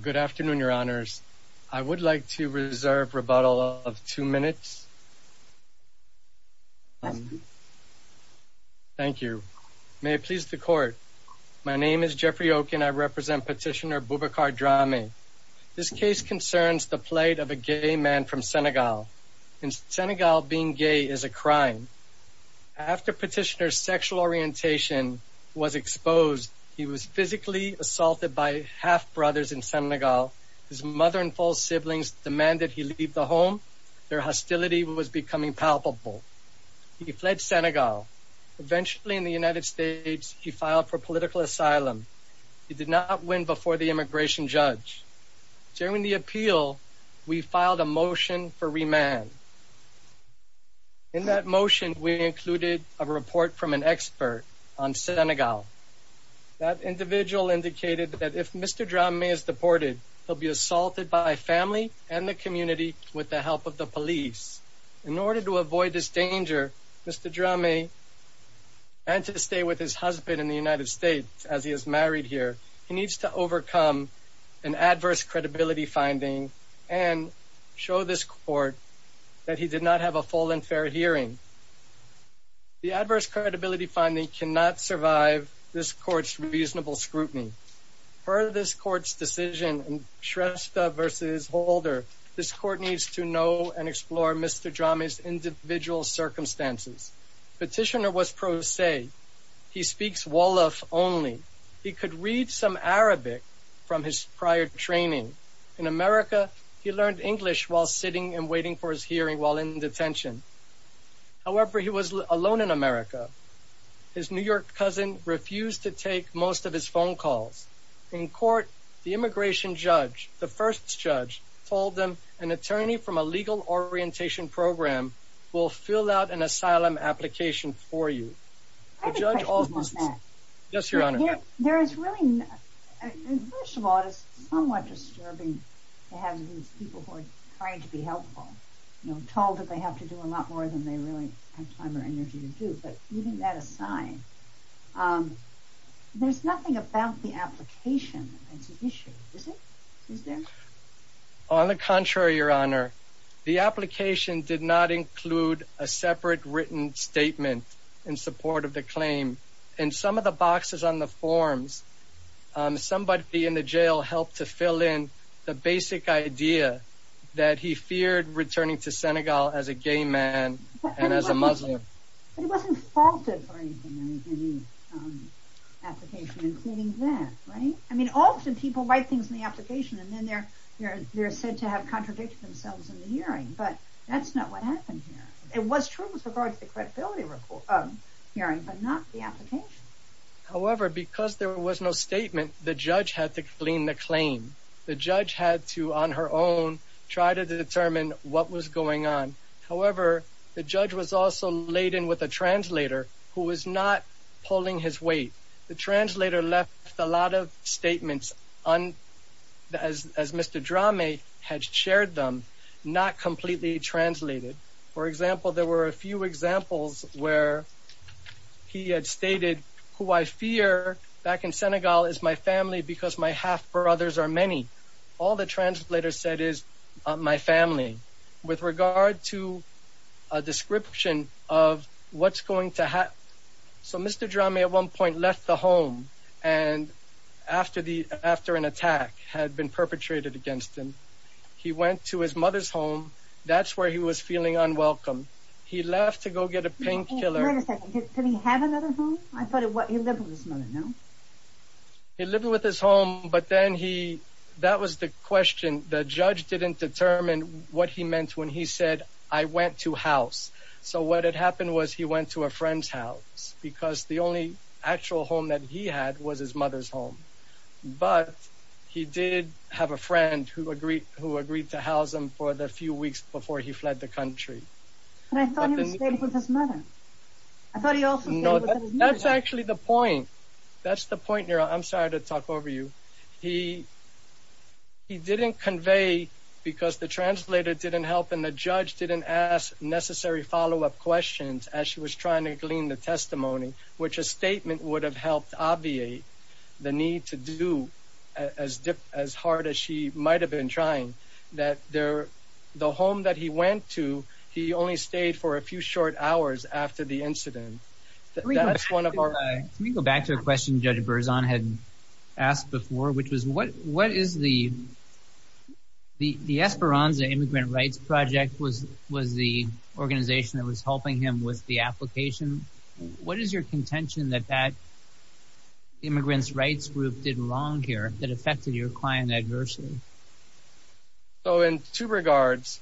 Good afternoon, your honors. I would like to reserve rebuttal of two minutes. Thank you. May it please the court. My name is Jeffrey Okun. I represent Petitioner Boubacar Darme. This case concerns the plight of a gay man from Senegal. In Senegal, being gay is a crime. After Petitioner's sexual orientation was exposed, he was physically assaulted by half-brothers in Senegal. His mother and four siblings demanded he leave the home. Their hostility was becoming palpable. He fled Senegal. Eventually, in the United States, he filed for political asylum. He did not win before the immigration judge. During the appeal, we filed a motion for remand. In that motion, we included a report from an expert on Senegal. That individual indicated that if Mr. Darme is deported, he'll be assaulted by family and the community with the help of the police. In order to avoid this danger, Mr. Darme had to stay with his husband in the United States as he is married here. He needs to overcome an adverse credibility finding and show this court that he did not have a full and fair hearing. The adverse credibility finding cannot survive this court's reasonable scrutiny. Per this court's decision, Shrestha v. Holder, this court needs to know and explore Mr. Darme's individual circumstances. Petitioner was pro se. He speaks Wolof only. He could read some Arabic from his prior training. In America, he learned English while sitting and waiting for his hearing while in detention. However, he was alone in America. His New York cousin refused to take most of his phone calls. In court, the immigration judge, the first judge, told them an attorney from a legal orientation program will fill out an asylum application for you. I have a question on that. Yes, Your Honor. There is really, first of all, it is somewhat disturbing to have these people who are trying to be helpful, you know, told that they have to do a lot more than they really have time or energy to do. But even that aside, there's nothing about the application that's an issue, is it? Is there? On the contrary, Your Honor. The application did not include a separate written statement in support of the claim. In some of the boxes on the forms, somebody in the jail helped to fill in the basic idea that he feared returning to Senegal as a gay man and as a Muslim. But it wasn't faulted for anything in the application, including that, right? I mean, often people write things in the application and then they're said to have contradicted themselves in the hearing. But that's not what happened here. It was true with regard to the credibility hearing, but not the application. However, because there was no statement, the judge had to clean the claim. The judge had to, on her own, try to determine what was going on. However, the judge was also laden with a translator who was not pulling his weight. The translator left a lot of statements as Mr. Drame had shared them, not completely translated. For example, there were a few examples where he had stated, who I fear back in Senegal is my family because my half brothers are many. All the translator said is my family with regard to a description of what's going to happen. So Mr. Drame at one point left the home and after an attack had been perpetrated against him, he went to his mother's home. That's where he was feeling unwelcome. He left to go get a painkiller. Wait a second, did he have another home? I thought he lived with his mother, no? He lived with his home, but then he, that was the question. The judge didn't determine what he meant when he said, I went to house. So what had happened was he went to a friend's house because the only actual home that he had was his mother's home. But he did have a friend who agreed to house him for the few weeks before he fled the country. But I thought he was staying with his That's the point. I'm sorry to talk over you. He didn't convey because the translator didn't help and the judge didn't ask necessary follow-up questions as she was trying to glean the testimony, which a statement would have helped obviate the need to do as hard as she might have been trying. The home that he went to, he only stayed for a few short hours after the incident. That's one of our... Can we go back to a question Judge Berzon had asked before, which was what is the Esperanza Immigrant Rights Project was the organization that was helping him with the application? What is your contention that that immigrants' rights group did wrong here that affected your client adversely? So in two regards,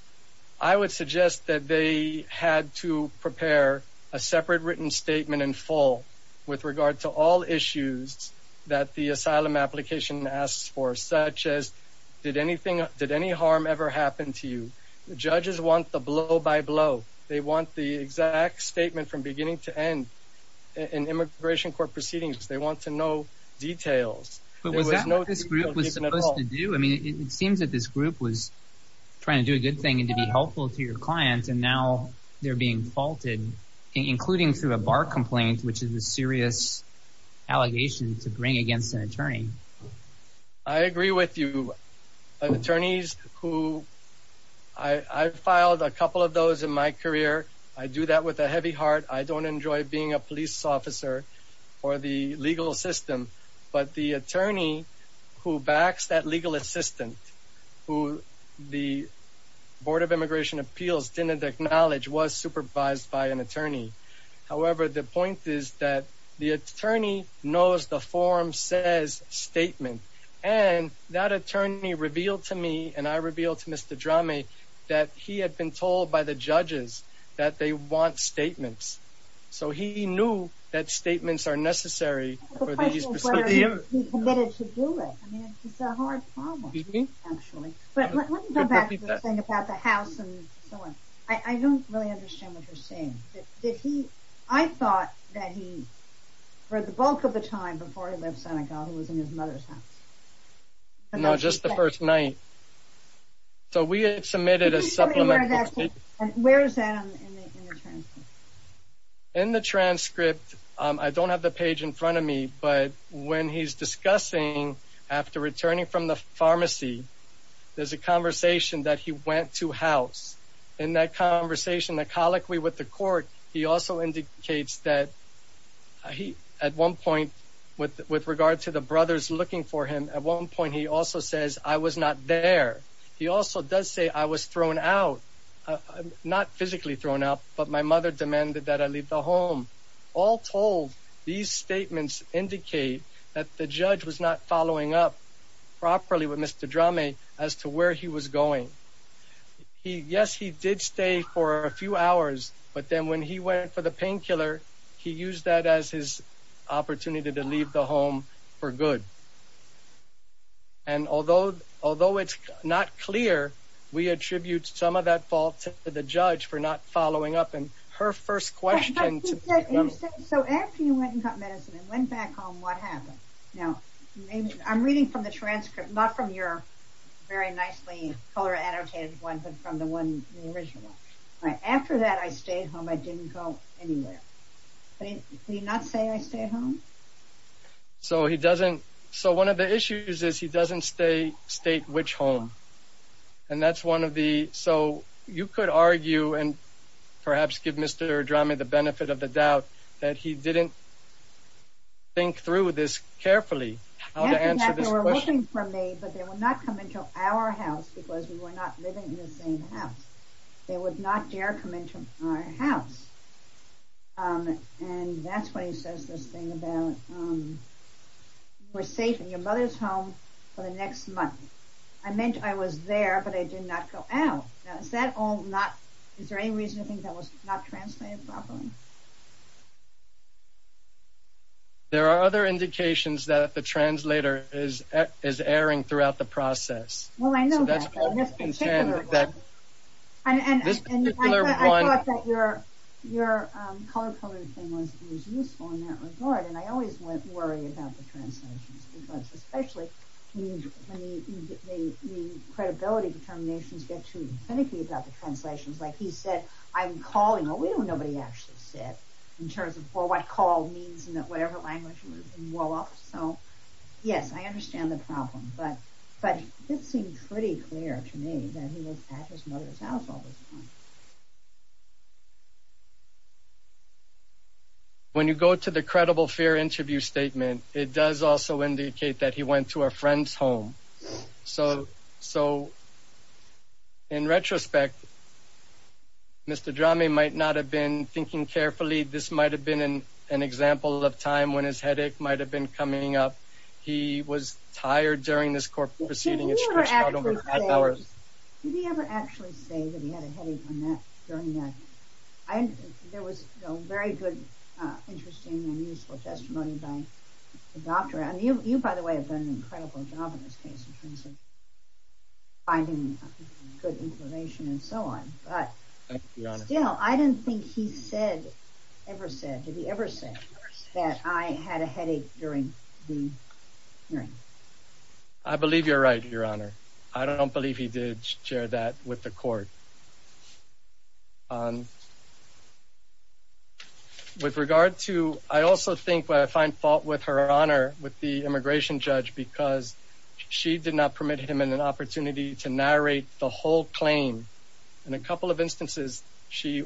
I would suggest that they had to prepare a separate written statement in full with regard to all issues that the asylum application asks for, such as did anything, did any harm ever happen to you? Judges want the blow by blow. They want the exact statement from beginning to end in immigration court proceedings. They want to know details. But was that what this group was supposed to do? I mean, it seems that this group was trying to do a good thing and to be helpful to your client, and now they're being faulted, including through a bar complaint, which is a serious allegation to bring against an attorney. I agree with you. Attorneys who... I filed a couple of those in my career. I do that with a heavy heart. I don't enjoy being a police officer for the legal system. But the attorney who backs that legal assistant, who the Immigration Appeals didn't acknowledge, was supervised by an attorney. However, the point is that the attorney knows the form says statement. And that attorney revealed to me, and I revealed to Mr. Drame, that he had been told by the judges that they want statements. So he knew that statements are necessary for these proceedings. The question is whether he committed to do it. It's a hard problem, actually. But let me go back to the thing about the house and so on. I don't really understand what you're saying. Did he... I thought that he, for the bulk of the time before he left Senegal, he was in his mother's house. No, just the first night. So we had submitted a supplemental statement. Where is that in the transcript? In the transcript, I don't have the from the pharmacy. There's a conversation that he went to house. In that conversation, the colloquy with the court, he also indicates that he, at one point, with regard to the brothers looking for him. At one point, he also says, I was not there. He also does say, I was thrown out. Not physically thrown out, but my mother demanded that I leave the home. All told, these statements indicate that the judge was not following up properly with Mr. Drame as to where he was going. Yes, he did stay for a few hours, but then when he went for the painkiller, he used that as his opportunity to leave the home for good. And although it's not clear, we attribute some of that fault to the judge for not following up. And her first question... So after you went and got medicine and went back home, what happened? Now, I'm reading from the transcript, not from your very nicely color annotated one, but from the one in the original. After that, I stayed home. I didn't go anywhere. Did he not say I stayed home? So he doesn't... So one of the issues is he doesn't state which home. And that's one of the... So you could argue, and perhaps give Mr. Drame the benefit of the doubt, that he didn't think through this carefully, how to answer this question. They were looking for me, but they would not come into our house because we were not living in the same house. They would not dare come into our house. And that's why he says this thing about, you were safe in your mother's home for the next month. I meant I was there, but I did not go out. Now, is that all not... Is there any reason to think that was not translated properly? There are other indications that the translator is erring throughout the process. Well, I know that, but this particular one... I always worry about the translations, especially when the credibility determinations get too finicky about the translations. Like he said, I'm calling, well, we don't know what he actually said, in terms of what call means, and whatever language was in Wolof. So, yes, I understand the problem, but it seemed pretty clear to me that he was at his mother's house all this time. When you go to the credible fear interview statement, it does also indicate that he went to a friend's home. So, in retrospect, Mr. Dramme might not have been thinking carefully. This might have been an example of time when his headache might have been coming up. He was tired during this court hearing. Did he ever actually say that he had a headache during that? There was a very good, interesting and useful testimony by the doctor. And you, by the way, have done an incredible job in this case, in terms of finding good information and so on. But still, I didn't think he said, ever said, did he ever say that I had a headache during the hearing? I believe you're right, Your Honor. I don't believe he did share that with the court. With regard to, I also think where I find fault with Her Honor, with the immigration judge, because she did not permit him an opportunity to narrate the whole claim. In a couple of instances, she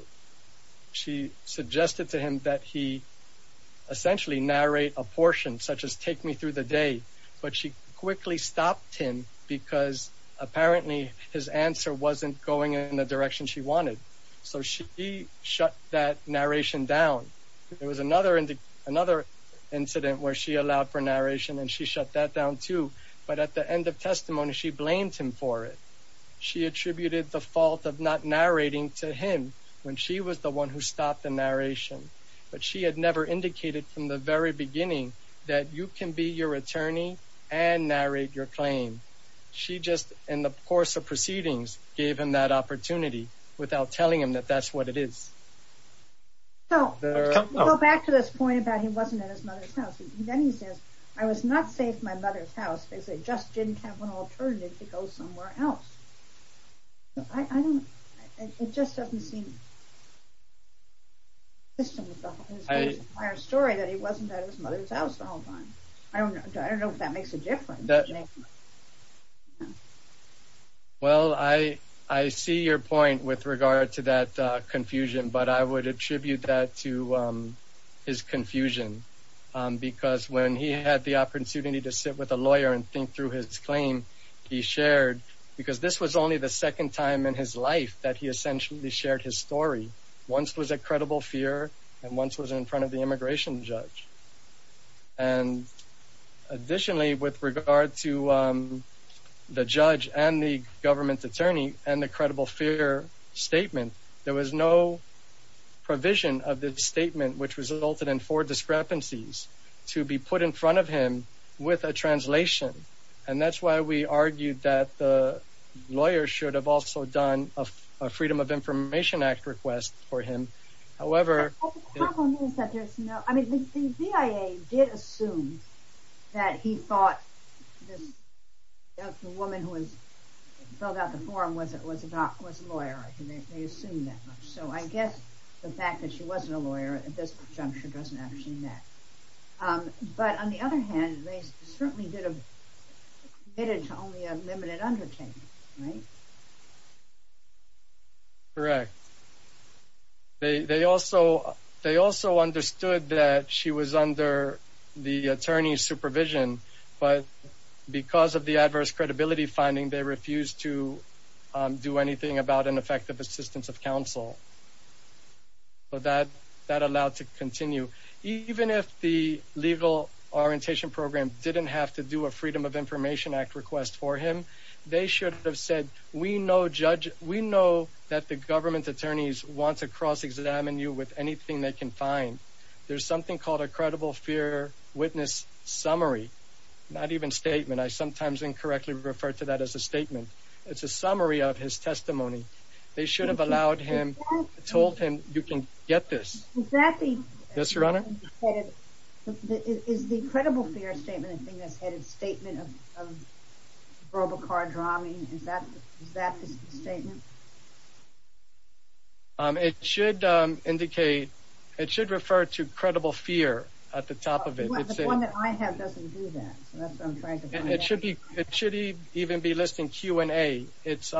suggested to him that he essentially narrate a portion, such as take me through the day, but she quickly stopped him because apparently his answer wasn't going in the direction she wanted. So she shut that narration down. There was another incident where she allowed for narration and she shut that down too. But at the end of testimony, she blamed him for it. She attributed the fault of not narrating to him when she was the one who stopped the narration. But she had never indicated from the very beginning that you can be your attorney and narrate your claim. She just, in the course of proceedings, gave him that opportunity without telling him that that's what it is. So, we'll go back to this point about he wasn't at his mother's house. Then he says, I was not safe at my mother's house because they just didn't have an alternative to go somewhere else. It just doesn't seem to be consistent with the whole story that he wasn't at his mother's house the whole time. I don't know if that makes a difference. Well, I see your point with regard to that confusion, but I would attribute that to his confusion because when he had the opportunity to sit with a lawyer and think through his claim, he shared, because this was only the second time in his life that he essentially shared his story. Once was at credible fear and once was in front of the immigration judge. And additionally, with regard to the judge and the government attorney and the credible fear statement, there was no provision of this statement, which resulted in four discrepancies, to be put in front of him with a translation. And that's why we argued that the lawyer should have also done a Freedom of Information Act request for him. However... The problem is that there's no... I mean, the BIA did assume that he thought this woman who filled out the form was a lawyer. They assumed that much. So, I guess the fact that she wasn't a lawyer at this juncture doesn't actually matter. But, on the other hand, they certainly did have committed to only a limited undertaking, right? Correct. They also understood that she was under the attorney's supervision, but because of the adverse credibility finding, they refused to do anything about an effective assistance of counsel. But that allowed to continue. Even if the legal orientation program didn't have to do a Freedom of Information Act request for him, they should have said, we know that the government attorneys want to cross-examine you with anything they can find. There's something called a credible fear witness summary, not even statement. I sometimes incorrectly refer to that as a statement. It's a summary of his testimony. They should have allowed him, told him, you can get this. Is that the... Yes, Your Honor. Is the credible fear statement the thing that's headed statement of RoboCard robbing? Is that the statement? It should indicate, it should refer to credible fear at the top of it. The one that I have doesn't do that. So that's what I'm trying to find out. It should even be listing Q&A. It's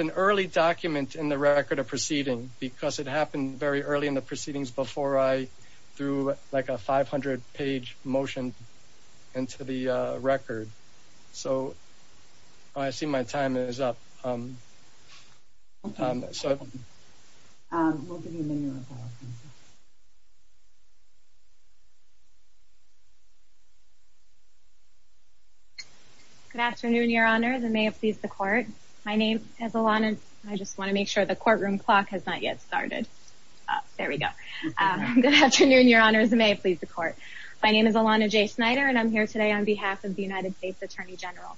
an early document in the record of proceeding because it happened very early in the proceedings before I threw like a 500 page motion into the record. So I see my time is up. Good afternoon, Your Honor. May it please the court. My name is Alana. I just want to make sure the courtroom clock has not yet started. There we go. Good afternoon, Your Honor. May it please the court. My name is Alana J. Snyder and I'm here today on behalf of the United States Attorney General.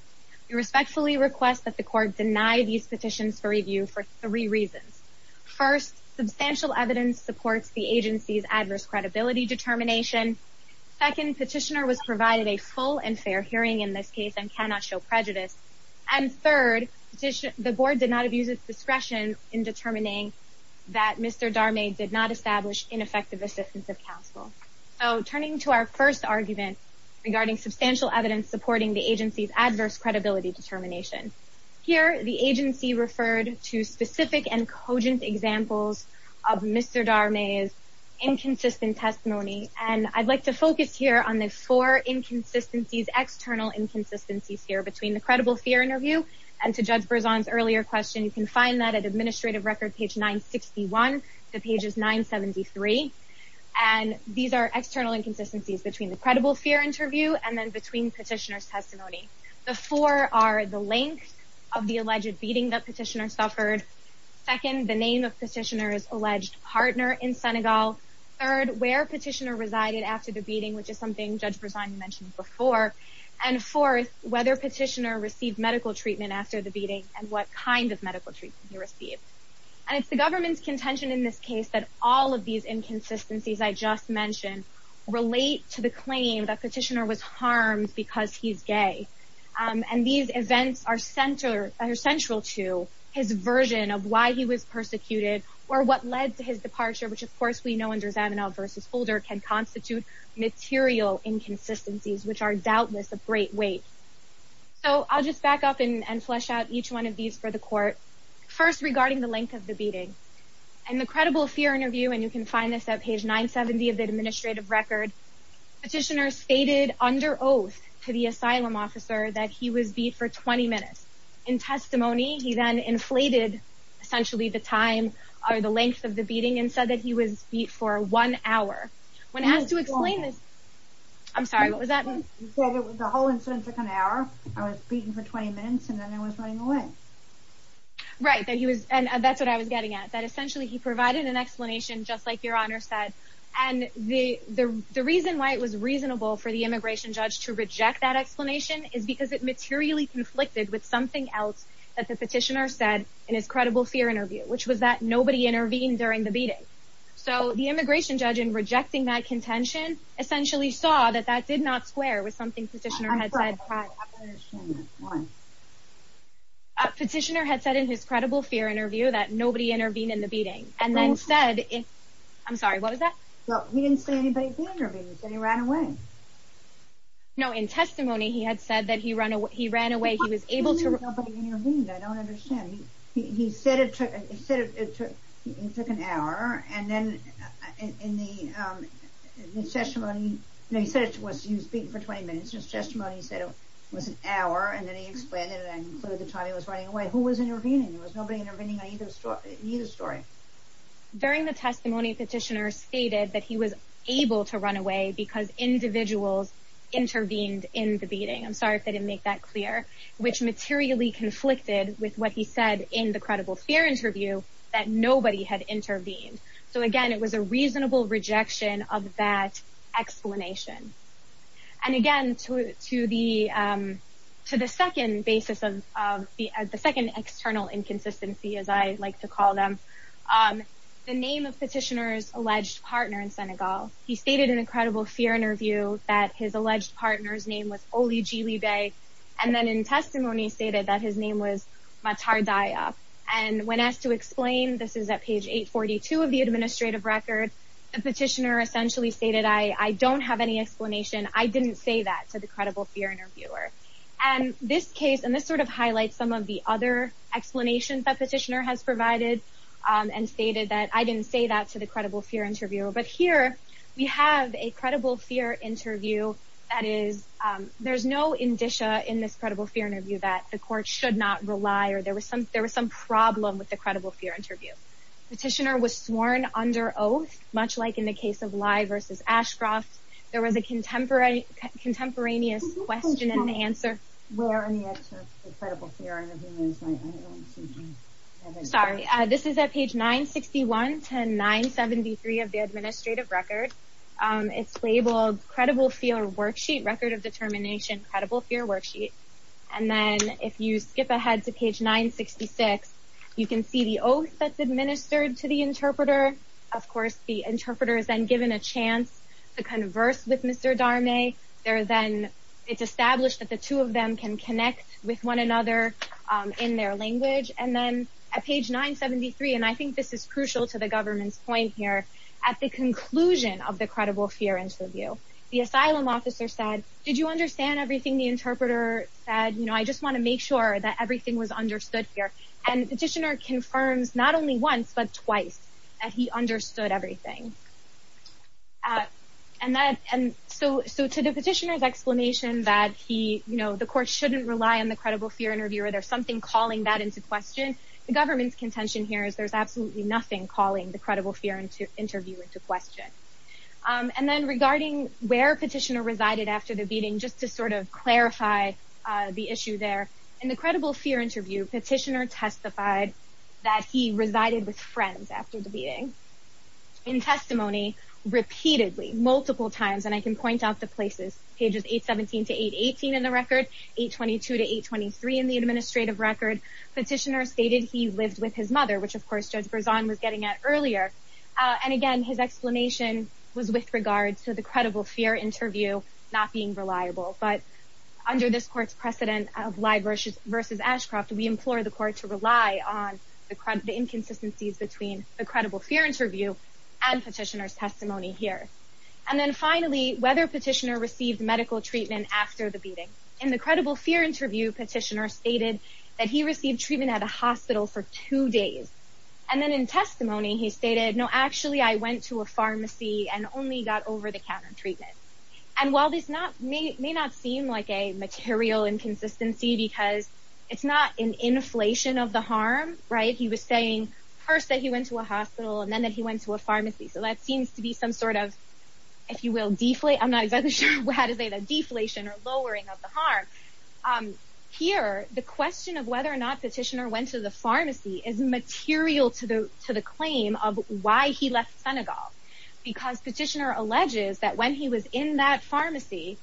We respectfully request that the court deny these petitions for review for three reasons. First, substantial evidence supports the agency's adverse credibility determination. Second, petitioner was provided a full and fair hearing in this case and cannot show prejudice. And third, the board did not abuse its discretion in determining that Mr. Darmay did not establish ineffective assistance of counsel. So turning to our first argument regarding substantial evidence supporting the agency's adverse credibility determination. Here, the agency referred to here on the four inconsistencies, external inconsistencies here between the credible fear interview and to Judge Berzon's earlier question. You can find that at administrative record page 961 to pages 973. And these are external inconsistencies between the credible fear interview and then between petitioner's testimony. The four are the length of the alleged beating that petitioner suffered. Second, the name of petitioner's alleged partner in Senegal. Third, where petitioner resided after the beating, which is something Judge Berzon mentioned before. And fourth, whether petitioner received medical treatment after the beating and what kind of medical treatment he received. And it's the government's contention in this case that all of these inconsistencies I just mentioned relate to the claim that petitioner was harmed because he's gay. And these events are central to his version of why he was persecuted or what led to his departure, which of course we know under Zavanaugh versus Holder can constitute material inconsistencies, which are doubtless a great weight. So I'll just back up and flesh out each one of these for the court. First, regarding the length of the beating and the credible fear interview. And you can find this at page 970 of the administrative record. Petitioner stated under oath to the asylum officer that he was beat for 20 minutes. In testimony, he then inflated essentially the time or the length of the beating and said that he was beat for one hour. When asked to explain this, I'm sorry, what was that? The whole incident took an hour. I was beaten for 20 minutes and then I was running away. Right. And that's what I was getting at. That essentially he provided an explanation just like your honor said. And the reason why it was reasonable for the immigration judge to reject that explanation is because it materially conflicted with something else that the which was that nobody intervened during the beating. So the immigration judge in rejecting that contention essentially saw that that did not square with something petitioner had said. Petitioner had said in his credible fear interview that nobody intervened in the beating and then said, I'm sorry, what was that? He didn't say anybody intervened. He said he ran away. No, in testimony, he had said that he ran away. He was able to. I don't understand. He said it took an hour. And then in the session when he said it was he was beaten for 20 minutes, his testimony said it was an hour. And then he explained it and included the time he was running away. Who was intervening? There was nobody intervening in either story. During the testimony, petitioner stated that he was able to run away because individuals intervened in the beating. I'm sorry if they didn't make that clear, which materially conflicted with what he said in the credible fear interview that nobody had intervened. So, again, it was a reasonable rejection of that explanation. And again, to the to the second basis of the second external inconsistency, as I like to call them, the name of petitioner's alleged partner in Senegal. He stated in a credible fear interview that his alleged partner's name was only Julie Day. And then in testimony stated that his name was Matar Daya. And when asked to explain, this is at page 842 of the administrative record. The petitioner essentially stated, I don't have any explanation. I didn't say that to the credible fear interviewer. And this case and this sort of highlights some of the other explanations that petitioner has provided and stated that I didn't say that to the credible fear interview. But here we have a credible fear interview. That is, there's no indicia in this credible fear interview that the court should not rely or there was some there was some problem with the credible fear interview. Petitioner was sworn under oath, much like in the case of Lye versus Ashcroft. There was a contemporary contemporaneous question and answer. Sorry, this is at page 961 to 973 of the administrative record. It's labeled credible fear worksheet, record of determination, credible fear worksheet. And then if you skip ahead to page 966, you can see the oath that's administered to the interpreter. Of course, the interpreter is then given a chance to converse with Mr. Darmay. There then it's established that the two of them can connect with one another in their language. And then at page 973, and I think this is crucial to the government's point here, at the conclusion of the credible fear interview, the asylum officer said, did you understand everything the interpreter said? You know, I just want to make sure that everything was understood here. And petitioner confirms not only once, but twice, that he understood everything. And that and so so to the petitioner's explanation that he, you know, the court shouldn't rely on the credible fear interview, or there's something calling that into question. The government's contention here is there's absolutely nothing calling the credible interview into question. And then regarding where petitioner resided after the beating, just to sort of clarify the issue there, in the credible fear interview, petitioner testified that he resided with friends after the beating. In testimony, repeatedly, multiple times, and I can point out the places, pages 817 to 818 in the record, 822 to 823 in the administrative record, petitioner stated he lived with his mother, which of course Judge Berzon was getting at earlier. And again, his explanation was with regard to the credible fear interview, not being reliable. But under this court's precedent of Lye versus Ashcroft, we implore the court to rely on the inconsistencies between the credible fear interview and petitioner's testimony here. And then finally, whether petitioner received medical treatment after the beating. In the credible fear interview, petitioner stated that he received treatment at a hospital for two days. And then in testimony, he stated, no, actually, I went to a pharmacy and only got over-the-counter treatment. And while this may not seem like a material inconsistency, because it's not an inflation of the harm, right, he was saying first that he went to a hospital, and then that he went to a pharmacy. So that seems to be some sort of, if you will, deflate, I'm not exactly sure how to say that, deflation or lowering of the harm. Here, the question of whether or not petitioner went to the pharmacy is material to the claim of why he left Senegal. Because petitioner alleges that when he was in that pharmacy,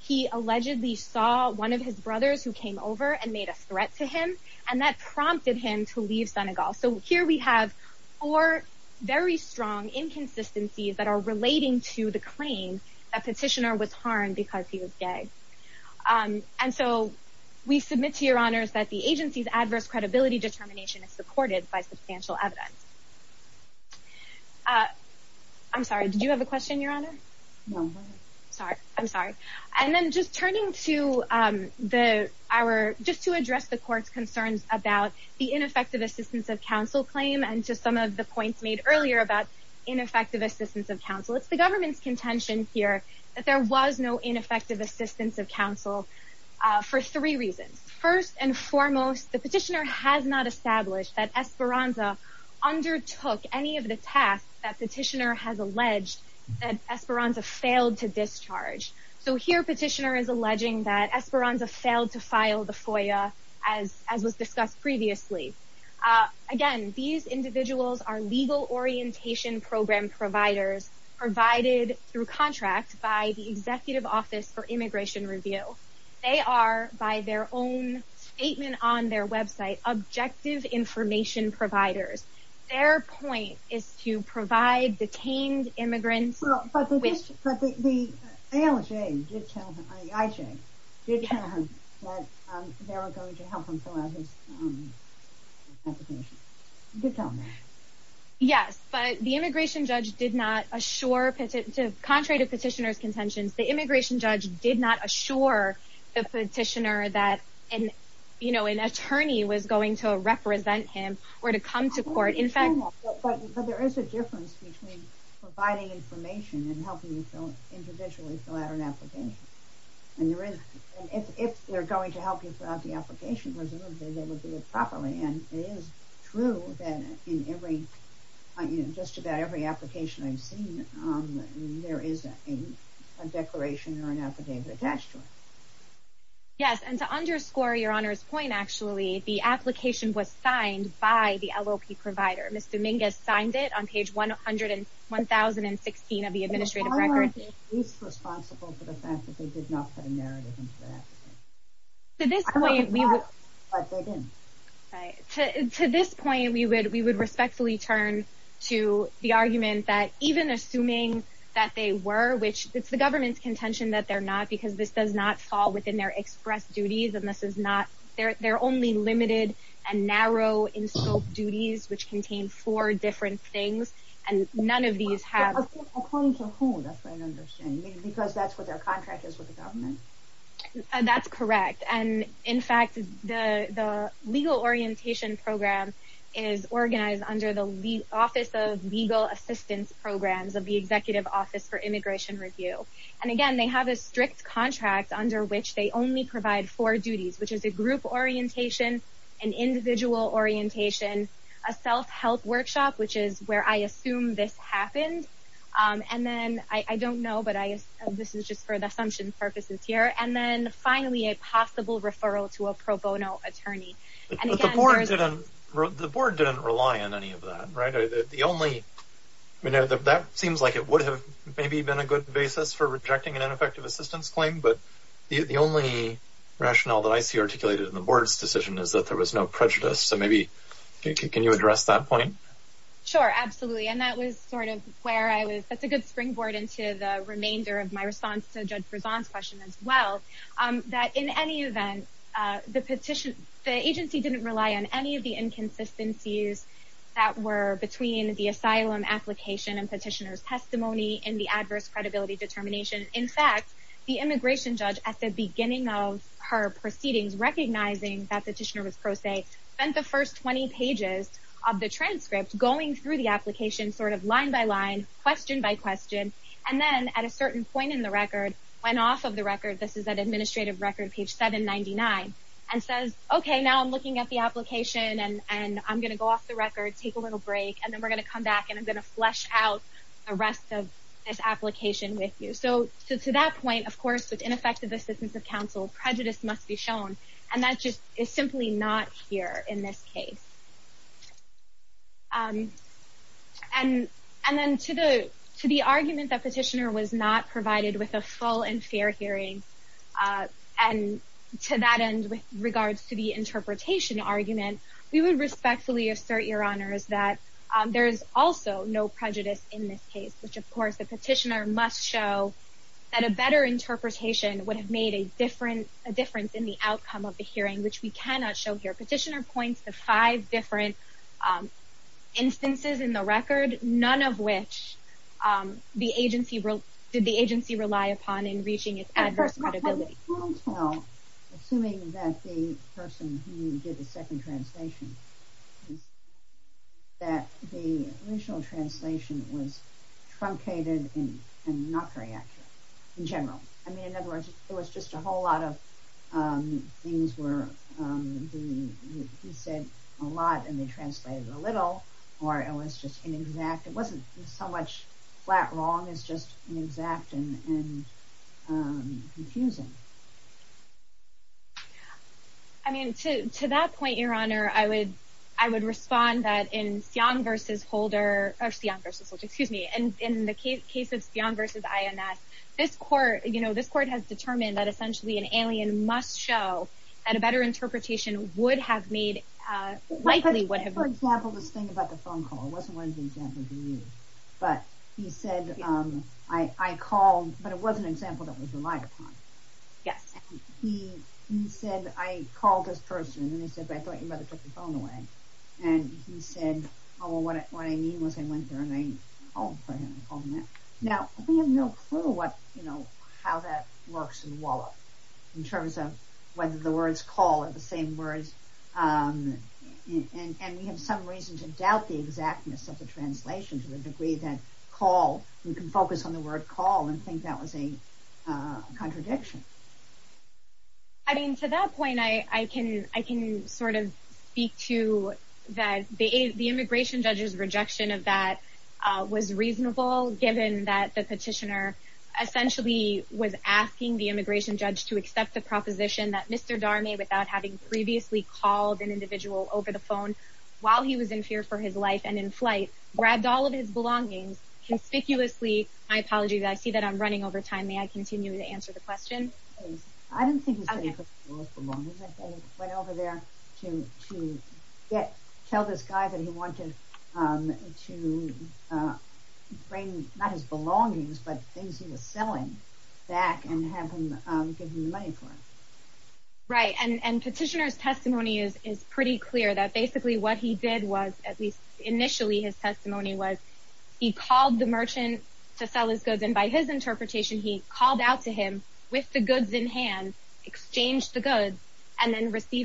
he allegedly saw one of his brothers who came over and made a threat to him, and that prompted him to leave Senegal. So here we have four very strong inconsistencies that are relating to the claim that petitioner was harmed because he was gay. And so we submit to your honors that the agency's adverse credibility determination is supported by substantial evidence. I'm sorry, did you have a question, your honor? Sorry, I'm sorry. And then just turning to our, just to address the court's concerns about the ineffective assistance of counsel claim, and to some of the points made earlier about ineffective assistance of counsel, it's the government's contention here that there was no ineffective assistance of counsel for three reasons. First and foremost, the petitioner has not established that Esperanza undertook any of the tasks that petitioner has alleged that Esperanza failed to discharge. So here, petitioner is alleging that Esperanza failed to file the FOIA as was discussed previously. Again, these individuals are legal orientation program providers provided through contract by the Executive Office for Immigration Review. They are, by their own statement on their website, objective information providers. Their point is to provide detained immigrants... Well, but the, but the, but the, but the, the LJ did tell him, I mean, IJ did tell him that they were going to help him fill out his application. Did tell him that. Yes, but the immigration judge did not assure, contrary to petitioner's contentions, the immigration judge did not assure the petitioner that an, you know, an attorney was going to represent him or to come to court. In fact... But there is a difference between providing information and helping you individually fill out an application. And there is, and if they're going to help you fill out the application, they would do it properly. And it is true that in every, just about every application I've seen, there is a declaration or an affidavit attached to it. Yes. And to underscore your Honor's point, actually, the application was signed by the LLP provider. Ms. Dominguez signed it on page 100 and 1016 of the administrative record. Who's responsible for the fact that they did not put a narrative into the application? To this point, we would respectfully turn to the argument that even assuming that they were, which it's the government's contention that they're not, because this does not fall within their express duties and this is not, they're only limited and narrow in scope duties, which contain four different things. And none of these have... Yeah, according to whom? That's what I'm understanding. Because that's what their contract is with the government? That's correct. And in fact, the legal orientation program is organized under the Office of Legal Assistance Programs of the Executive Office for Immigration Review. And again, they have a strict contract under which they only provide four duties, which is a group orientation, an individual orientation, a self-help workshop, which is I assume this happened. And then I don't know, but this is just for the assumption purposes here. And then finally, a possible referral to a pro bono attorney. The board didn't rely on any of that, right? That seems like it would have maybe been a good basis for rejecting an ineffective assistance claim. But the only rationale that I see articulated in the board's decision is that there was no prejudice. So maybe, can you address that point? Sure, absolutely. And that was sort of where I was... That's a good springboard into the remainder of my response to Judge Prezant's question as well, that in any event, the agency didn't rely on any of the inconsistencies that were between the asylum application and petitioner's testimony and the adverse credibility determination. In fact, the immigration judge at the beginning of her proceedings, recognizing that the petitioner spent the first 20 pages of the transcript going through the application sort of line by line, question by question, and then at a certain point in the record, went off of the record, this is an administrative record, page 799, and says, okay, now I'm looking at the application and I'm going to go off the record, take a little break, and then we're going to come back and I'm going to flesh out the rest of this application with you. So to that point, of course, with in this case. And then to the argument that petitioner was not provided with a full and fair hearing, and to that end, with regards to the interpretation argument, we would respectfully assert, Your Honors, that there is also no prejudice in this case, which, of course, the petitioner must show that a better interpretation would have made a difference in the outcome of the hearing, which we cannot show here. Petitioner points to five different instances in the record, none of which did the agency rely upon in reaching its adverse credibility. Assuming that the person who did the second translation, that the original translation was truncated and not very accurate in general. I mean, in other words, it was just a whole lot of things were said a lot and they translated a little, or it was just inexact. It wasn't so much flat wrong as just inexact and confusing. I mean, to that point, Your Honor, I would respond that in Sion v. Holder, or Sion v. Holder, excuse me, and in the case of Sion v. INS, this court, you know, this court has determined that essentially an alien must show that a better interpretation would have made, likely would have... For example, this thing about the phone call. It wasn't one of the examples he used. But he said, I called, but it was an example that was relied upon. Yes. He said, I called this person and he said, I thought your mother took the phone away. And he said, oh, well, what I mean was I went there and I called for him and called him back. Now, we have no clue what, you know, how that works in Wallop in terms of whether the words call are the same words. And we have some reason to doubt the exactness of the translation to the degree that call, you can focus on the word call and think that was a contradiction. I mean, to that point, I can sort of speak to that the immigration judge's rejection of that was reasonable, given that the petitioner essentially was asking the immigration judge to accept the proposition that Mr. Darnay, without having previously called an individual over the phone while he was in fear for his life and in flight, grabbed all of his belongings conspicuously. My apologies. I see that I'm running over time. May I continue to answer the question? I didn't think he was taking all his belongings. I think he went over there to tell this guy that he wanted to bring not his belongings, but things he was selling back and have him give him the money for it. Right. And petitioner's testimony is pretty clear that basically what he did was, at least initially, his testimony was he called the merchant to sell his goods. And by his interpretation, he called out to him with the goods in hand, exchanged the goods and then required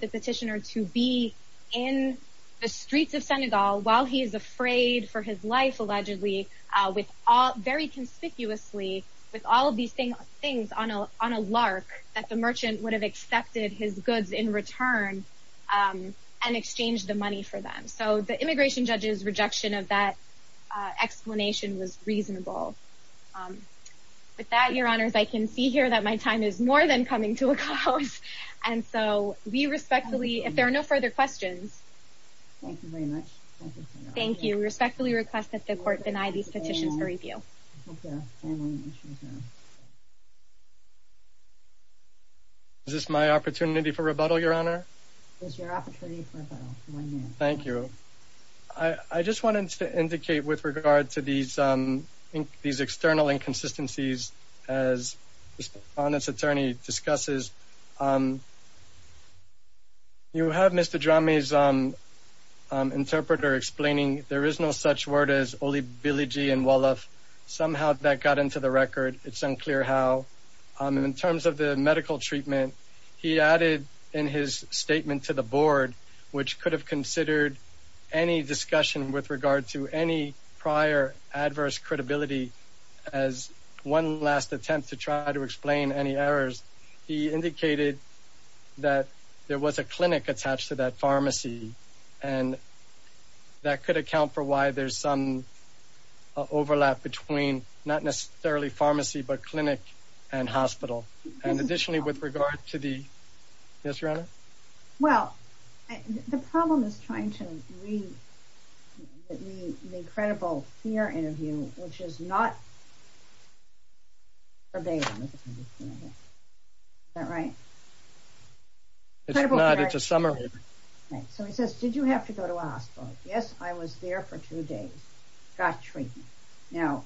the petitioner to be in the streets of Senegal while he is afraid for his life, allegedly, very conspicuously, with all of these things on a lark that the merchant would have accepted his goods in return and exchanged the money for them. So the immigration judge's rejection of that explanation was reasonable. With that, your honors, I can see here that my time is more than coming to a close. And so we respectfully, if there are no further questions. Thank you very much. Thank you. Respectfully request that the court deny these petitions for review. Is this my opportunity for rebuttal, your honor? Thank you. I just wanted to indicate with regard to these, um, these external inconsistencies as honest attorney discusses, um, you have Mr. Jami's, um, um, interpreter explaining. There is no such word as only Billie G and well, if somehow that got into the record, it's unclear how, um, in terms of the medical treatment he added in his statement to the board, which could have considered any discussion with regard to any prior adverse credibility as one last attempt to try to explain any errors. He indicated that there was a clinic attached to that pharmacy and that could account for why there's some overlap between not necessarily pharmacy, but clinic and hospital. And additionally, with regard to the, yes, your honor. Well, the problem is trying to read the incredible fear interview, which is not a day, right? It's a summer. So he says, did you have to go to a hospital? Yes. I was there for two days, got treatment. Now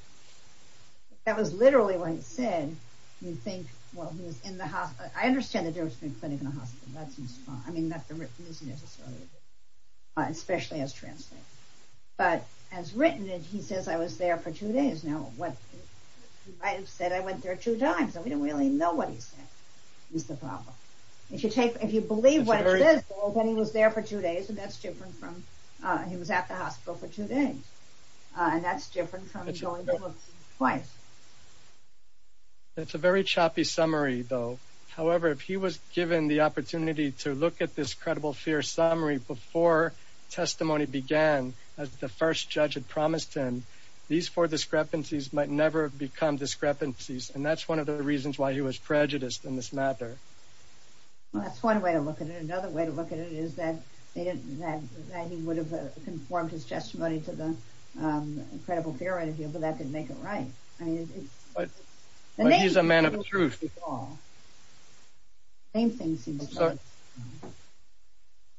that was literally what he said. You think, well, he was in the hospital. I understand that there's been clinic in the hospital. That seems fine. I mean, that's the written, especially as translate, but as written, and he says, I was there for two days. Now what I have said, I went there two times and we don't really know what he said is the problem. If you take, if you believe what it is, well, then he was there for two days and that's different from, he was at the hospital for two days. And that's different from going twice. That's a very choppy summary though. However, if he was given the opportunity to look at this credible fear summary before testimony began, as the first judge had promised him, these four discrepancies might never become discrepancies. And that's one of the reasons why he was prejudiced in this matter. Well, that's one way to look at it. Another way to look at it is that they didn't, that he would have conformed his testimony to the, um, incredible fear interview, but that didn't make it right. I mean, he's a man of truth. Same thing.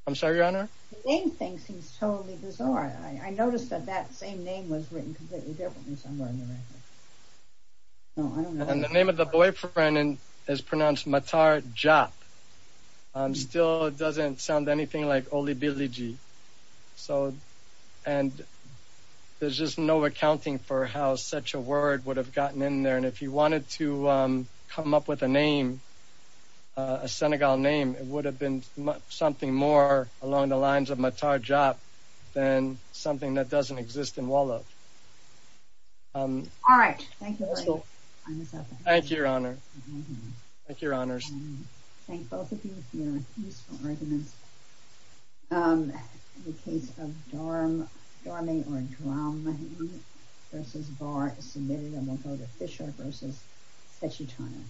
I'm sorry, your Honor. Same thing seems totally bizarre. I noticed that that same name was written completely differently somewhere in the record. And the name of the boyfriend is pronounced Matar Jop. Still, it doesn't sound anything like Olibiliji. So, and there's just no accounting for how such a word would have gotten in there. And if he wanted to, um, come up with a name, a Senegal name, it would have been something more along the lines of Matar Jop than something that doesn't exist in Wallachia. Um, all right. Thank you. Thank you, your Honor. Thank you, your Honors. Thank both of you for your useful arguments. Um, in the case of Dorma, Dorma or Droma versus Bar, maybe I want to go to Fisher versus Stachyton.